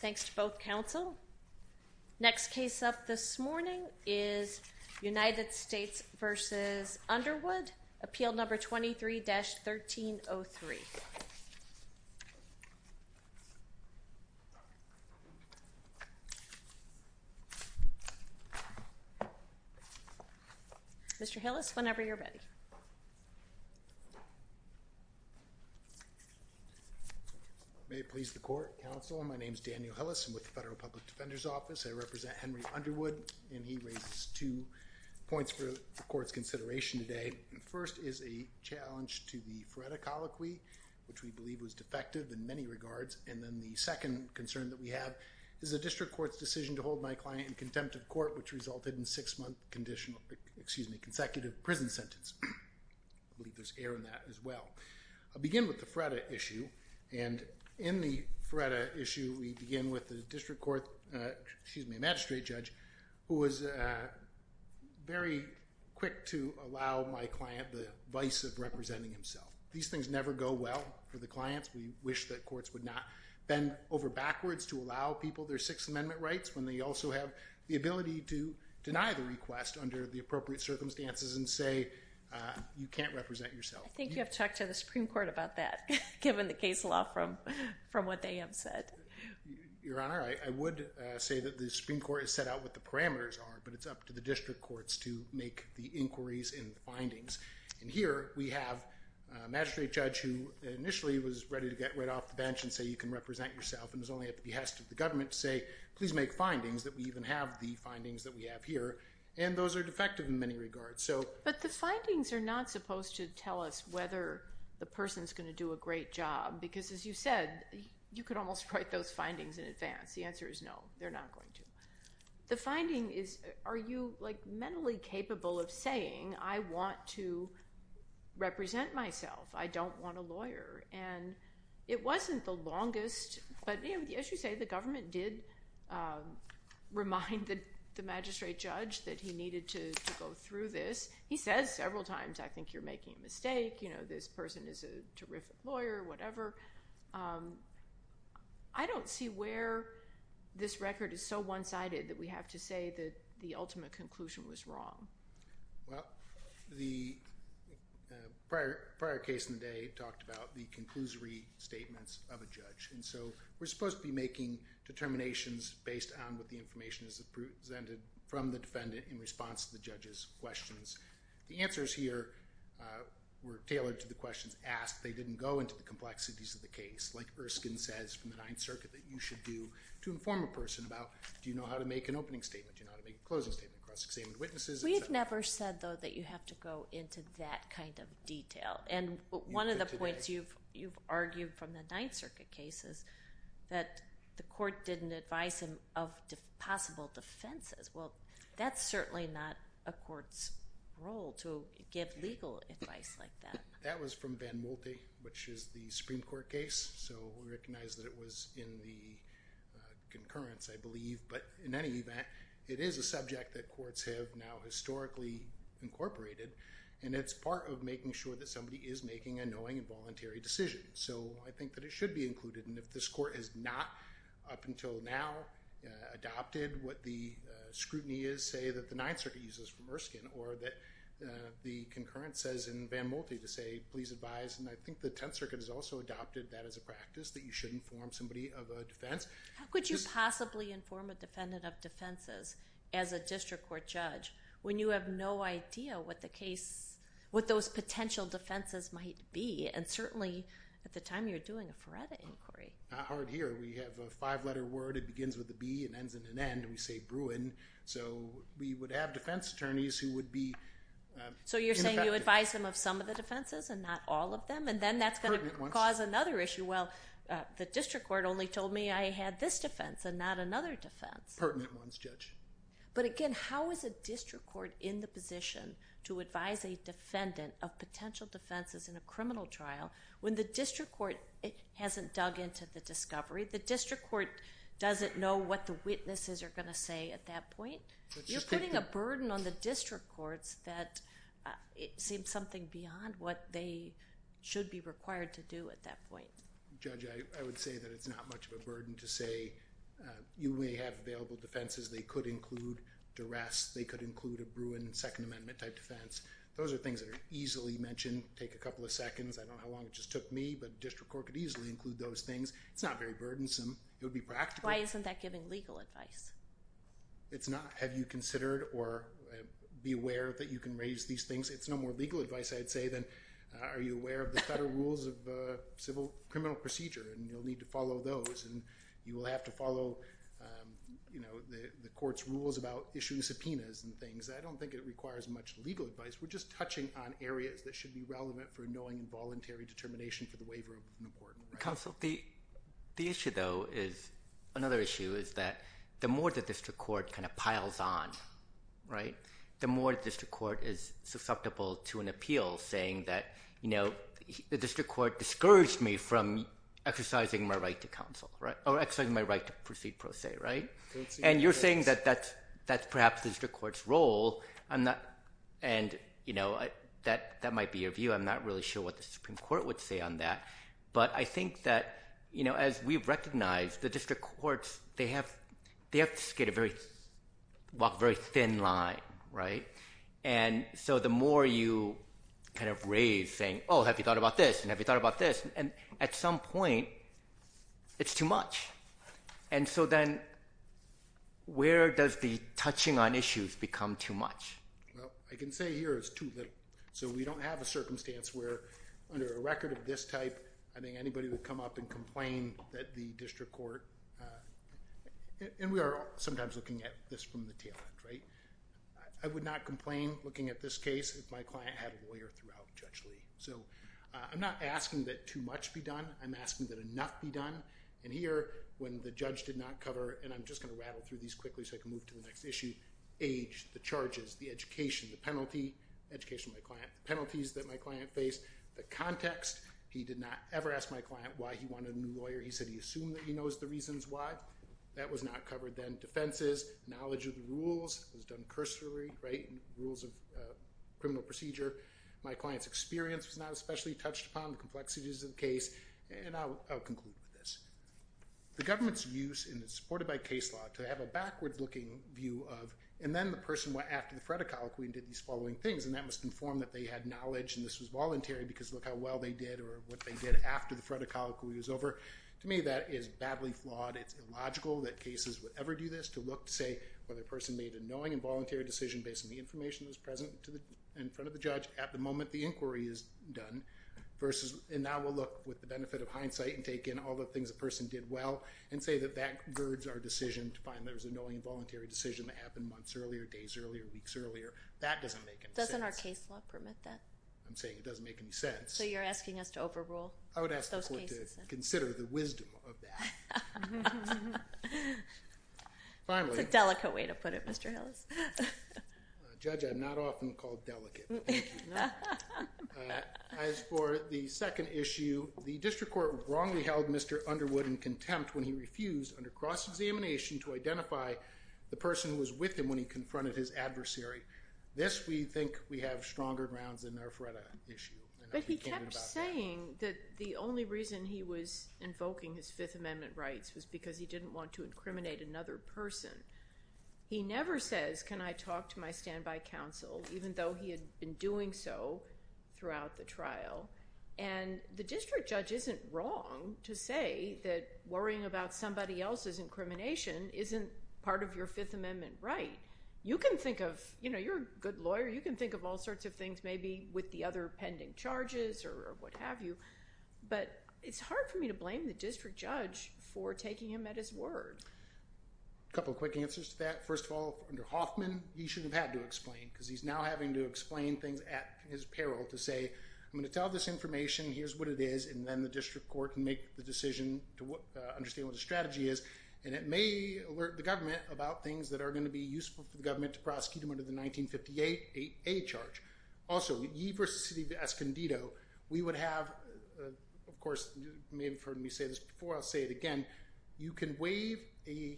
Thanks to both counsel. Next case up this morning is United States v. Underwood, Appeal No. 23-1303. Mr. Hillis, whenever you're ready. May it please the court, counsel. My name is Daniel Hillis. I'm with the Federal Public Defender's Office. I represent Henry Underwood, and he raises two points for the court's consideration today. First is a challenge to the FREDA colloquy, which we believe was defective in many regards. And then the second concern that we have is the district court's decision to hold my client in contempt of court, which resulted in a six-month conditional, excuse me, consecutive prison sentence. I believe there's error in that as well. I'll begin with the FREDA issue. And in the FREDA issue, we begin with the district court, excuse me, magistrate judge, who was very quick to allow my client the vice of representing himself. These things never go well for the clients. We wish that courts would not bend over backwards to allow people their Sixth Amendment rights when they also have the ability to deny the request under the appropriate circumstances and say you can't represent yourself. I think you have to talk to the Supreme Court about that, given the case law from what they have said. Your Honor, I would say that the Supreme Court has set out what the parameters are, but it's up to the district courts to make the inquiries and findings. And here we have a magistrate judge who initially was ready to get right off the bench and say you can represent yourself, and was only at the behest of the government to say please make findings, that we even have the findings that we have here. And those are defective in many regards. But the findings are not supposed to tell us whether the person's going to do a great job. Because as you said, you could almost write those findings in advance. The answer is no, they're not going to. The finding is, are you mentally capable of saying I don't want a lawyer. And it wasn't the longest. But as you say, the government did remind the magistrate judge that he needed to go through this. He says several times, I think you're making a mistake. This person is a terrific lawyer, whatever. I don't see where this record is so one-sided that we have to say that the ultimate conclusion was wrong. Well, the prior case in the day talked about the conclusory statements of a judge. And so we're supposed to be making determinations based on what the information is presented from the defendant in response to the judge's questions. The answers here were tailored to the questions asked. They didn't go into the complexities of the case, like Erskine says from the Ninth Circuit that you should do to inform a person about, do you know how to make an opening statement, do you know how to make a closing statement across examined witnesses, et cetera. We've never said, though, that you have to go into that kind of detail. And one of the points you've argued from the Ninth Circuit case is that the court didn't advise him of possible defenses. Well, that's certainly not a court's role to give legal advice like that. That was from Van Moltie, which is the Supreme Court case. So we recognize that it was in the concurrence, I believe. But in any event, it is a subject that courts have now historically incorporated. And it's part of making sure that somebody is making a knowing and voluntary decision. So I think that it should be included. And if this court has not, up until now, adopted what the scrutiny is, say that the Ninth Circuit uses from Erskine, or that the concurrence says in Van Moltie to say, please advise. And I think the Tenth Circuit has also adopted that as a practice, that you should inform somebody of a defense. How could you possibly inform a defendant of defenses as a district court judge when you have no idea what those potential defenses might be? And certainly, at the time, you're doing a Faretta inquiry. Not hard here. We have a five-letter word. It begins with a B and ends in an N. We say Bruin. So we would have defense attorneys who would be ineffective. So you're saying you advise them of some of the defenses and not all of them? And then that's going to cause another issue. Well, the district court only told me I had this defense and not another defense. Pertinent ones, Judge. But again, how is a district court in the position to advise a defendant of potential defenses in a criminal trial when the district court hasn't dug into the discovery? The district court doesn't know what the witnesses are going to say at that point. You're putting a burden on the district courts that seems something beyond what they should be required to do at that point. Judge, I would say that it's not much of a burden to say, you may have available defenses. They could include duress. They could include a Bruin Second Amendment-type defense. Those are things that are easily mentioned. Take a couple of seconds. I don't know how long it just took me, but district court could easily include those things. It's not very burdensome. It would be practical. Why isn't that giving legal advice? It's not. Have you considered or be aware that you can raise these things? It's no more legal advice, I'd say, than are you aware of the federal rules of civil criminal procedure? And you'll need to follow those. And you will have to follow the court's rules about issuing subpoenas and things. I don't think it requires much legal advice. We're just touching on areas that should be relevant for knowing involuntary determination for the waiver of an award. Counsel, the issue, though, is another issue is that the more the district court piles on, the more the district court is susceptible to an appeal saying that the district court discouraged me from exercising my right to counsel or exercising my right to proceed pro se. And you're saying that that's perhaps the district court's role, and that might be your view. I'm not really sure what the Supreme Court would say on that. But I think that, as we've recognized, the district courts, they have to walk a very thin line. And so the more you kind of raise saying, oh, have you thought about this, and have you thought about this? And at some point, it's too much. And so then where does the touching on issues become too much? Well, I can say here it's too little. So we don't have a circumstance where, under a record of this type, I think anybody would come up and complain that the district court, and we are sometimes looking at this from the tail end, right? I would not complain looking at this case if my client had a lawyer throughout Judge Lee. So I'm not asking that too much be done. I'm asking that enough be done. And here, when the judge did not cover, and I'm just going to rattle through these quickly so I can move to the next issue, age, the charges, the education, the penalty, education of my client, the penalties that my client faced, the context. He did not ever ask my client why he wanted a new lawyer. He said he assumed that he knows the reasons why. That was not covered. Then defenses, knowledge of the rules. It was done cursory, right? Rules of criminal procedure. My client's experience was not especially touched upon. The complexities of the case. And I'll conclude with this. The government's use, and it's supported by case law, to have a backward-looking view of, and then the person went after the phrenicology and did these following things. And that must inform that they had knowledge, and this was voluntary because look how well they did or what they did after the phrenicology was over. To me, that is badly flawed. It's illogical that cases would ever do this, to look to say whether a person made a knowing and voluntary decision based on the information that was present in front of the judge at the moment the inquiry is done, and now we'll look with the benefit of hindsight and take in all the things a person did well and say that that girds our decision to find there was a knowing and voluntary decision that happened months earlier, days earlier, weeks earlier. That doesn't make any sense. Doesn't our case law permit that? I'm saying it doesn't make any sense. So you're asking us to overrule those cases? I would ask the court to consider the wisdom of that. It's a delicate way to put it, Mr. Hillis. Judge, I'm not often called delicate. As for the second issue, the district court wrongly held Mr. Underwood in contempt when he refused, under cross-examination, to identify the person who was with him when he confronted his adversary. This, we think we have stronger grounds than our FREDA issue. But he kept saying that the only reason he was invoking his Fifth Amendment rights was because he didn't want to incriminate another person. He never says, can I talk to my standby counsel, even though he had been doing so throughout the trial. And the district judge isn't wrong to say that worrying about somebody else's incrimination isn't part of your Fifth Amendment right. You can think of, you know, you're a good lawyer, you can think of all sorts of things, maybe with the other pending charges or what have you, but it's hard for me to blame the district judge for taking him at his word. A couple of quick answers to that. First of all, under Hoffman, he shouldn't have had to explain because he's now having to explain things at his peril to say, I'm going to tell this information, here's what it is, and then the district court can make the decision to understand what the strategy is. And it may alert the government about things that are going to be useful for the government to prosecute him under the 1958 8A charge. Also, Ye versus City of Escondido, we would have, of course, you may have heard me say this before, I'll say it again, you can waive a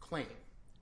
claim.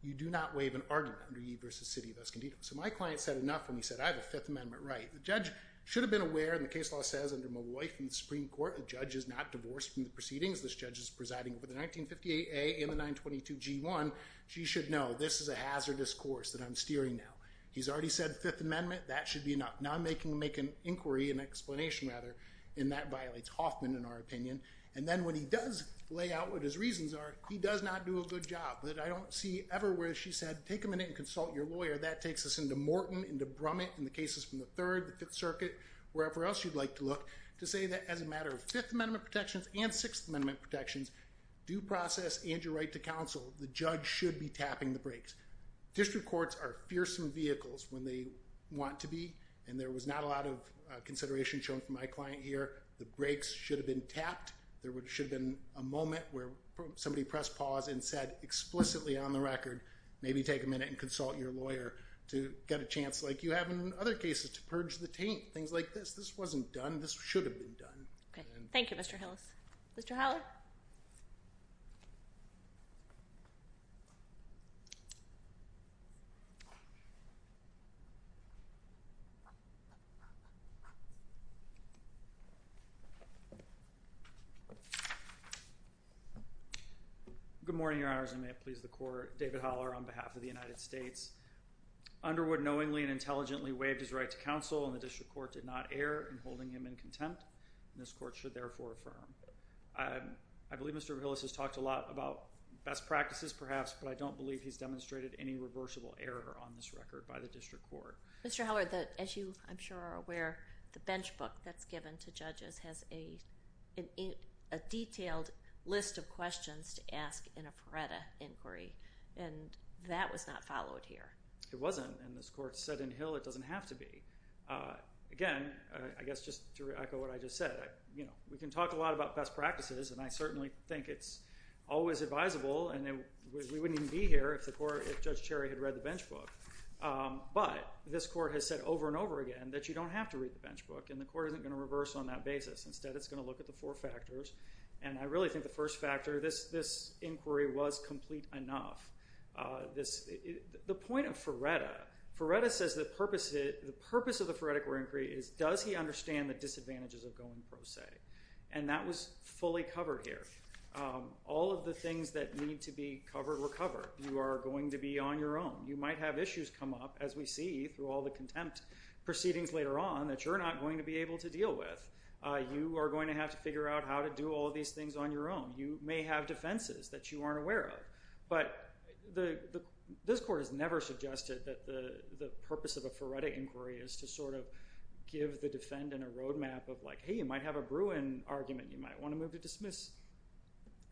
You do not waive an argument under Ye versus City of Escondido. So my client said enough when he said, I have a Fifth Amendment right. The judge should have been aware, and the case law says under Molloy from the Supreme Court, the judge is not divorced from the proceedings. This judge is presiding over the 1958 A and the 922 G1. She should know, this is a hazardous course that I'm steering now. He's already said Fifth Amendment, that should be enough. Now I'm making him make an inquiry, an explanation rather, and that violates Hoffman, in our opinion. And then when he does lay out what his reasons are, he does not do a good job. But I don't see ever where she said, take a minute and consult your lawyer. That takes us into Morton, into Brummett, in the cases from the Third, the Fifth Circuit, wherever else you'd like to look, to say that as a matter of Fifth Amendment protections and Sixth Amendment protections, due process and your right to counsel, the judge should be tapping the brakes. District courts are fearsome vehicles when they want to be. And there was not a lot of consideration shown from my client here. The brakes should have been tapped. There should have been a moment where somebody pressed pause and said explicitly on the record, maybe take a minute and consult your lawyer to get a chance like you have in other cases to purge the taint, things like this. This wasn't done. This should have been done. Thank you, Mr. Hillis. Mr. Howler? Good morning, Your Honors. And may it please the court, David Howler on behalf of the United States. Underwood knowingly and intelligently waived his right to counsel, and the district court did not err in holding him in contempt. And this court should therefore affirm. I believe Mr. Hillis has talked a lot about best practices, perhaps, but I don't believe he's demonstrated any reversible error on this record by the district court. Mr. Howler, as you, I'm sure, are aware, the bench book that's given to judges has a detailed list of questions to ask in a Pareto inquiry. And that was not followed here. It wasn't. And this court said in Hill it doesn't have to be. Again, I guess just to echo what I just said, we can talk a lot about best practices, and I certainly think it's always advisable, and we wouldn't even be here if Judge Cherry had read the bench book. But this court has said over and over again that you don't have to read the bench book, and the court isn't going to reverse on that basis. Instead, it's going to look at the four factors. And I really think the first factor, this inquiry, was complete enough. The point of Ferretta, Ferretta says the purpose of the Ferretta inquiry is does he understand the disadvantages of going pro se? And that was fully covered here. All of the things that need to be covered were covered. You are going to be on your own. You might have issues come up, as we see through all the contempt proceedings later on, that you're not going to be able to deal with. You are going to have to figure out how to do all these things on your own. You may have defenses that you aren't aware of. But this court has never suggested that the purpose of a Ferretta inquiry is to sort of give the defendant a roadmap of like, hey, you might have a Bruin argument. You might want to move to dismiss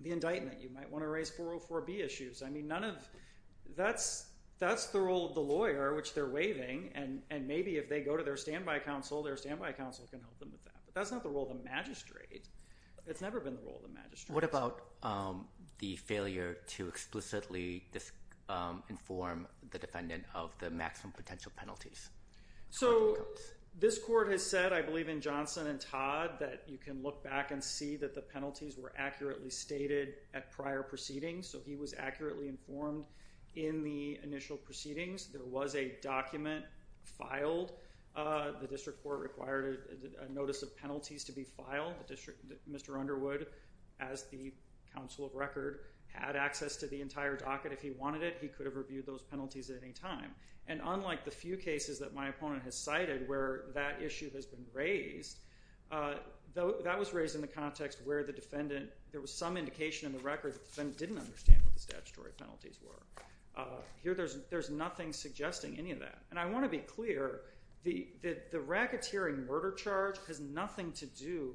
the indictment. You might want to raise 404B issues. I mean, none of that's the role of the lawyer, which they're waiving. And maybe if they go to their standby counsel, their standby counsel can help them with that. But that's not the role of the magistrate. It's never been the role of the magistrate. What about the failure to explicitly inform the defendant of the maximum potential penalties? So this court has said, I believe in Johnson and Todd, that you can look back and see that the penalties were accurately stated at prior proceedings. So he was accurately informed in the initial proceedings. There was a document filed. The district court required a notice of penalties to be filed. Mr. Underwood, as the counsel of record, had access to the entire docket if he wanted it. He could have reviewed those penalties at any time. And unlike the few cases that my opponent has cited where that issue has been raised, that was raised in the context where the defendant, there was some indication in the record that the defendant didn't understand what the statutory penalties were. Here, there's nothing suggesting any of that. And I want to be clear, the racketeering murder charge has nothing to do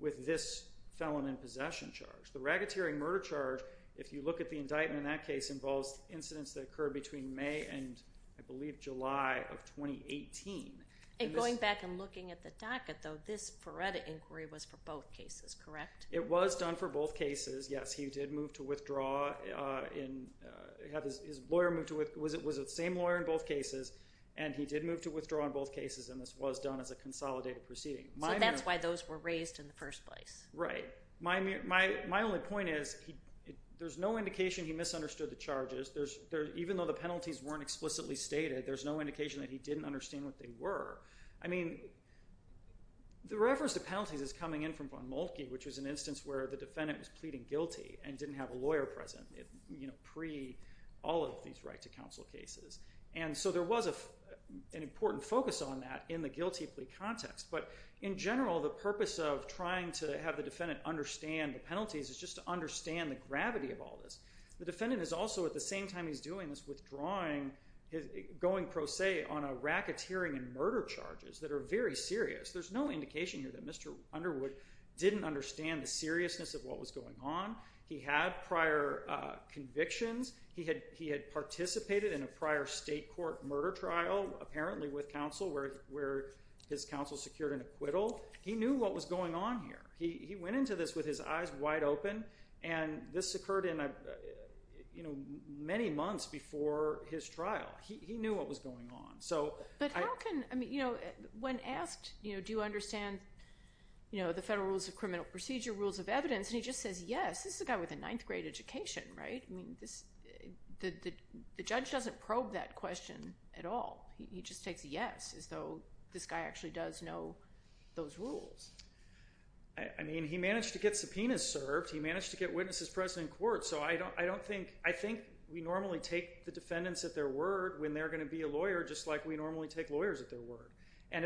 with this felon in possession charge. The racketeering murder charge, if you look at the indictment in that case, involves incidents that occurred between May and, I believe, July of 2018. And going back and looking at the docket, though, this Feretta inquiry was for both cases, correct? It was done for both cases, yes. He did move to withdraw. His lawyer was the same lawyer in both cases. And he did move to withdraw in both cases. And this was done as a consolidated proceeding. So that's why those were raised in the first place. Right. My only point is, there's no indication he misunderstood the charges. Even though the penalties weren't explicitly stated, there's no indication that he didn't understand what they were. I mean, the reference to penalties is coming in from Von Moltke, which was an instance where the defendant was pleading guilty and didn't have a lawyer present pre all of these right to counsel cases. And so there was an important focus on that in the guilty plea context. But in general, the purpose of trying to have the defendant understand the penalties is just to understand the gravity of all this. The defendant is also, at the same time he's doing this, withdrawing, going pro se on a racketeering and murder charges that are very serious. There's no indication here that Mr. Underwood didn't understand the seriousness of what was going on. He had prior convictions. He had participated in a prior state court murder trial, apparently with counsel, where his counsel secured an acquittal. He knew what was going on here. He went into this with his eyes wide open. And this occurred many months before his trial. He knew what was going on. But when asked, do you understand the federal rules of criminal procedure, rules of evidence, and he just says, yes. This is a guy with a ninth grade education, right? The judge doesn't probe that question at all. He just takes a yes, as though this guy actually does know those rules. I mean, he managed to get subpoenas served. He managed to get witnesses present in court. So I think we normally take the defendants at their word when they're going to be a lawyer, just like we normally take lawyers at their word. And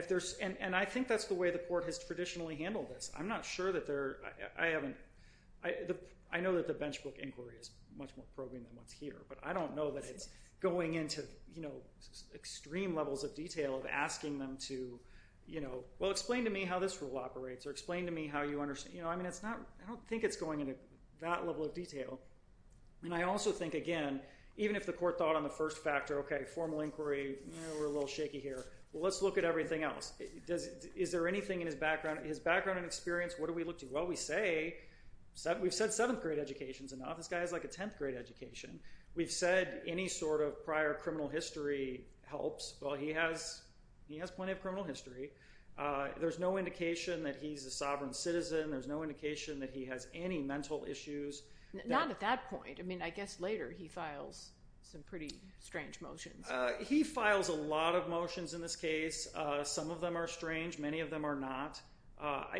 I think that's the way the court has traditionally handled this. I'm not sure that they're, I know that the bench book inquiry is much more probing than what's here. But I don't know that it's going into extreme levels of detail of asking them to, well, explain to me how this rule operates, or explain to me how you understand. I don't think it's going into that level of detail. And I also think, again, even if the court thought on the first factor, OK, formal inquiry, we're a little shaky here. Well, let's look at everything else. Is there anything in his background, his background and experience, what do we look to? Well, we say, we've said seventh grade education's enough. This guy has like a 10th grade education. We've said any sort of prior criminal history helps. Well, he has plenty of criminal history. There's no indication that he's a sovereign citizen. There's no indication that he has any mental issues. Not at that point. I mean, I guess later he files some pretty strange motions. He files a lot of motions in this case. Some of them are strange. Many of them are not.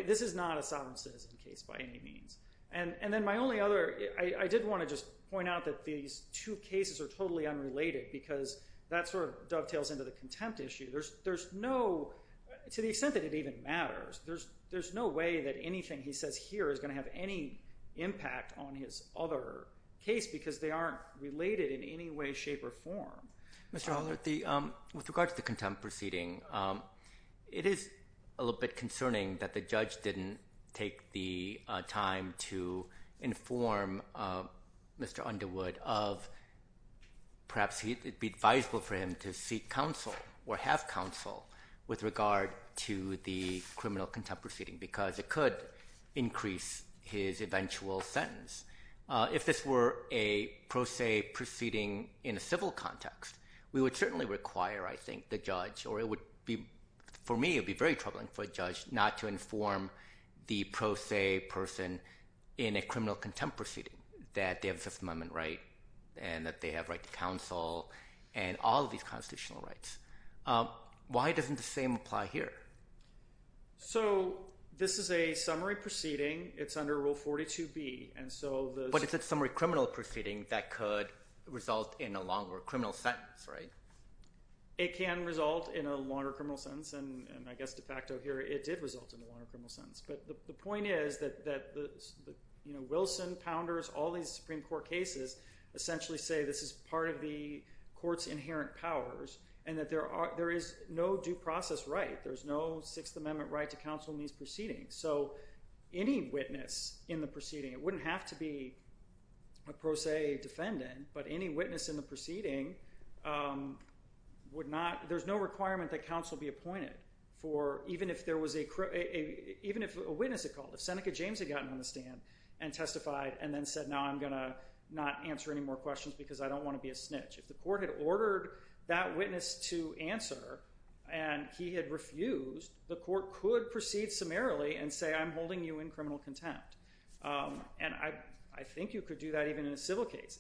This is not a sovereign citizen case, by any means. And then my only other, I did want to just point out that these two cases are totally unrelated, because that sort of dovetails into the contempt issue. There's no, to the extent that it even matters, there's no way that anything he says here is going to have any impact on his other case, because they aren't related in any way, shape, or form. Mr. Holder, with regard to the contempt proceeding, it is a little bit concerning that the judge didn't take the time to inform Mr. Underwood of perhaps it would be advisable for him to seek counsel or have counsel with regard to the criminal contempt proceeding, because it could increase his eventual sentence. If this were a pro se proceeding in a civil context, we would certainly require, I think, the judge, or it would be, for me, it would be very troubling for a judge not to inform the pro se person in a criminal contempt proceeding that they have a Fifth Amendment right and that they have right to counsel and all of these constitutional rights. Why doesn't the same apply here? So this is a summary proceeding. It's under Rule 42B. But it's a summary criminal proceeding that could result in a longer criminal sentence, right? It can result in a longer criminal sentence. And I guess de facto here, it did result in a longer criminal sentence. But the point is that Wilson, Pounders, all these Supreme Court cases essentially say this is part of the court's inherent powers and that there is no due process right. There's no Sixth Amendment right to counsel in these proceedings. So any witness in the proceeding, it wouldn't have to be a pro se defendant, but any witness in the proceeding would not, there's no requirement that counsel be appointed for even if there was a, even if a witness had called, if Seneca James had gotten on the stand and testified and then said, no, I'm going to not answer any more questions because I don't want to be a snitch. If the court had ordered that witness to answer and he had refused, the court could proceed summarily and say, I'm holding you in criminal contempt. And I think you could do that even in a civil case.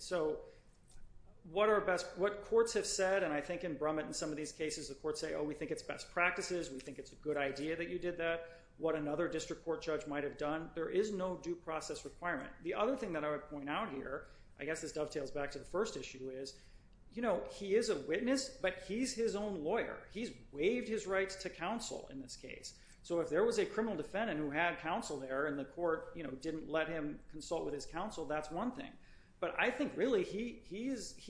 So what are best, what courts have said, and I think in Brumit in some of these cases, the courts say, oh, we think it's best practices. We think it's a good idea that you did that. What another district court judge might have done. There is no due process requirement. The other thing that I would point out here, I guess this dovetails back to the first issue, is he is a witness, but he's his own lawyer. He's waived his rights to counsel in this case. So if there was a criminal defendant who had counsel there and the court didn't let him consult with his counsel, that's one thing. But I think really he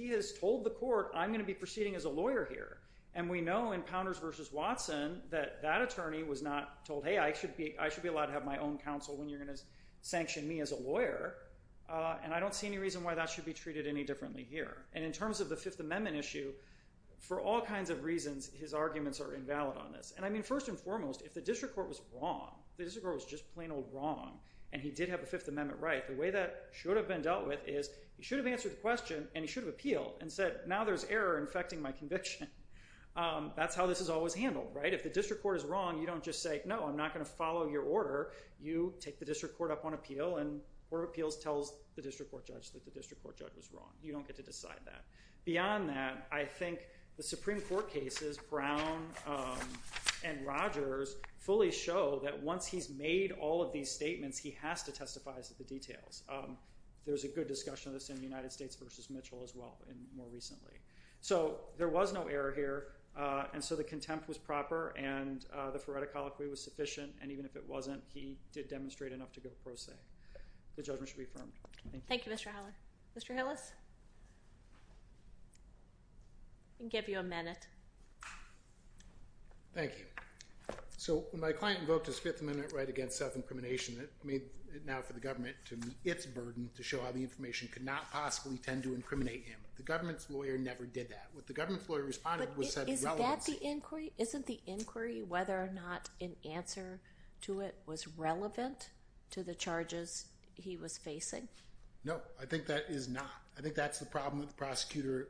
has told the court, I'm going to be proceeding as a lawyer here. And we know in Pounders versus Watson that that attorney was not told, hey, I should be allowed to have my own counsel when you're going to sanction me as a lawyer. And I don't see any reason why that should be and in terms of the Fifth Amendment issue, for all kinds of reasons, his arguments are invalid on this. And I mean, first and foremost, if the district court was wrong, the district court was just plain old wrong, and he did have a Fifth Amendment right, the way that should have been dealt with is he should have answered the question and he should have appealed and said, now there's error infecting my conviction. That's how this is always handled, right? If the district court is wrong, you don't just say, no, I'm not going to follow your order. You take the district court up on appeal and court of appeals tells the district court judge that the district court judge was wrong. You don't get to decide that. Beyond that, I think the Supreme Court cases, Brown and Rogers, fully show that once he's made all of these statements, he has to testify as to the details. There was a good discussion of this in the United States versus Mitchell as well, and more recently. So there was no error here, and so the contempt was proper and the phoretic colloquy was sufficient. And even if it wasn't, he did demonstrate enough to go pro se. The judgment should be affirmed. Thank you, Mr. Holler. Mr. Hillis? I can give you a minute. Thank you. So when my client invoked his fifth amendment right against self-incrimination, it made it now for the government to meet its burden to show how the information could not possibly tend to incriminate him. The government's lawyer never did that. What the government's lawyer responded was said relevance. But isn't that the inquiry? Isn't the inquiry whether or not an answer to it was relevant to the charges he was facing? No, I think that is not. I think that's the problem the prosecutor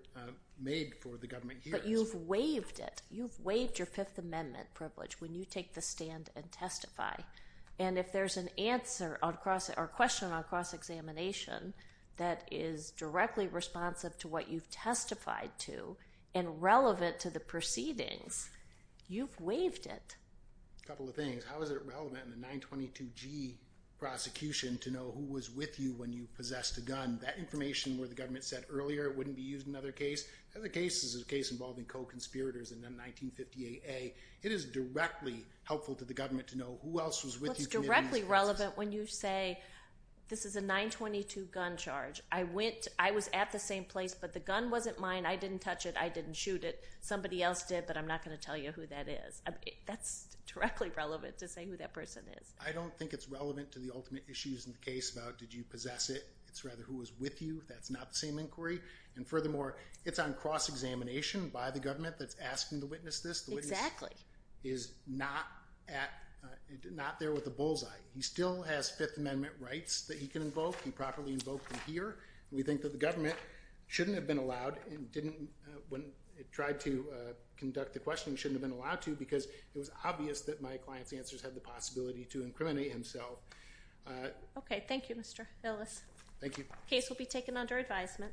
made for the government here. But you've waived it. You've waived your fifth amendment privilege when you take the stand and testify. And if there's an answer or question on cross-examination that is directly responsive to what you've testified to and relevant to the proceedings, you've waived it. A couple of things. How is it relevant in the 922G prosecution to know who was with you when you possessed a gun? That information where the government said earlier it wouldn't be used in another case? Another case is a case involving co-conspirators in 1958A. It is directly helpful to the government to know who else was with you committing these crimes. What's directly relevant when you say, this is a 922 gun charge. I was at the same place, but the gun wasn't mine. I didn't touch it. I didn't shoot it. Somebody else did, but I'm not going to tell you who that is. That's directly relevant to say who that person is. I don't think it's relevant to the ultimate issues in the case about did you possess it. It's rather who was with you. That's not the same inquiry. And furthermore, it's on cross-examination by the government that's asking to witness this. Exactly. The witness is not there with a bullseye. He still has Fifth Amendment rights that he can invoke. He properly invoked them here. We think that the government shouldn't have been allowed and didn't, when it tried to conduct the questioning, shouldn't have been allowed to because it was obvious that my client's answers had the possibility to incriminate himself. OK. Thank you, Mr. Ellis. Thank you. Case will be taken under advisement.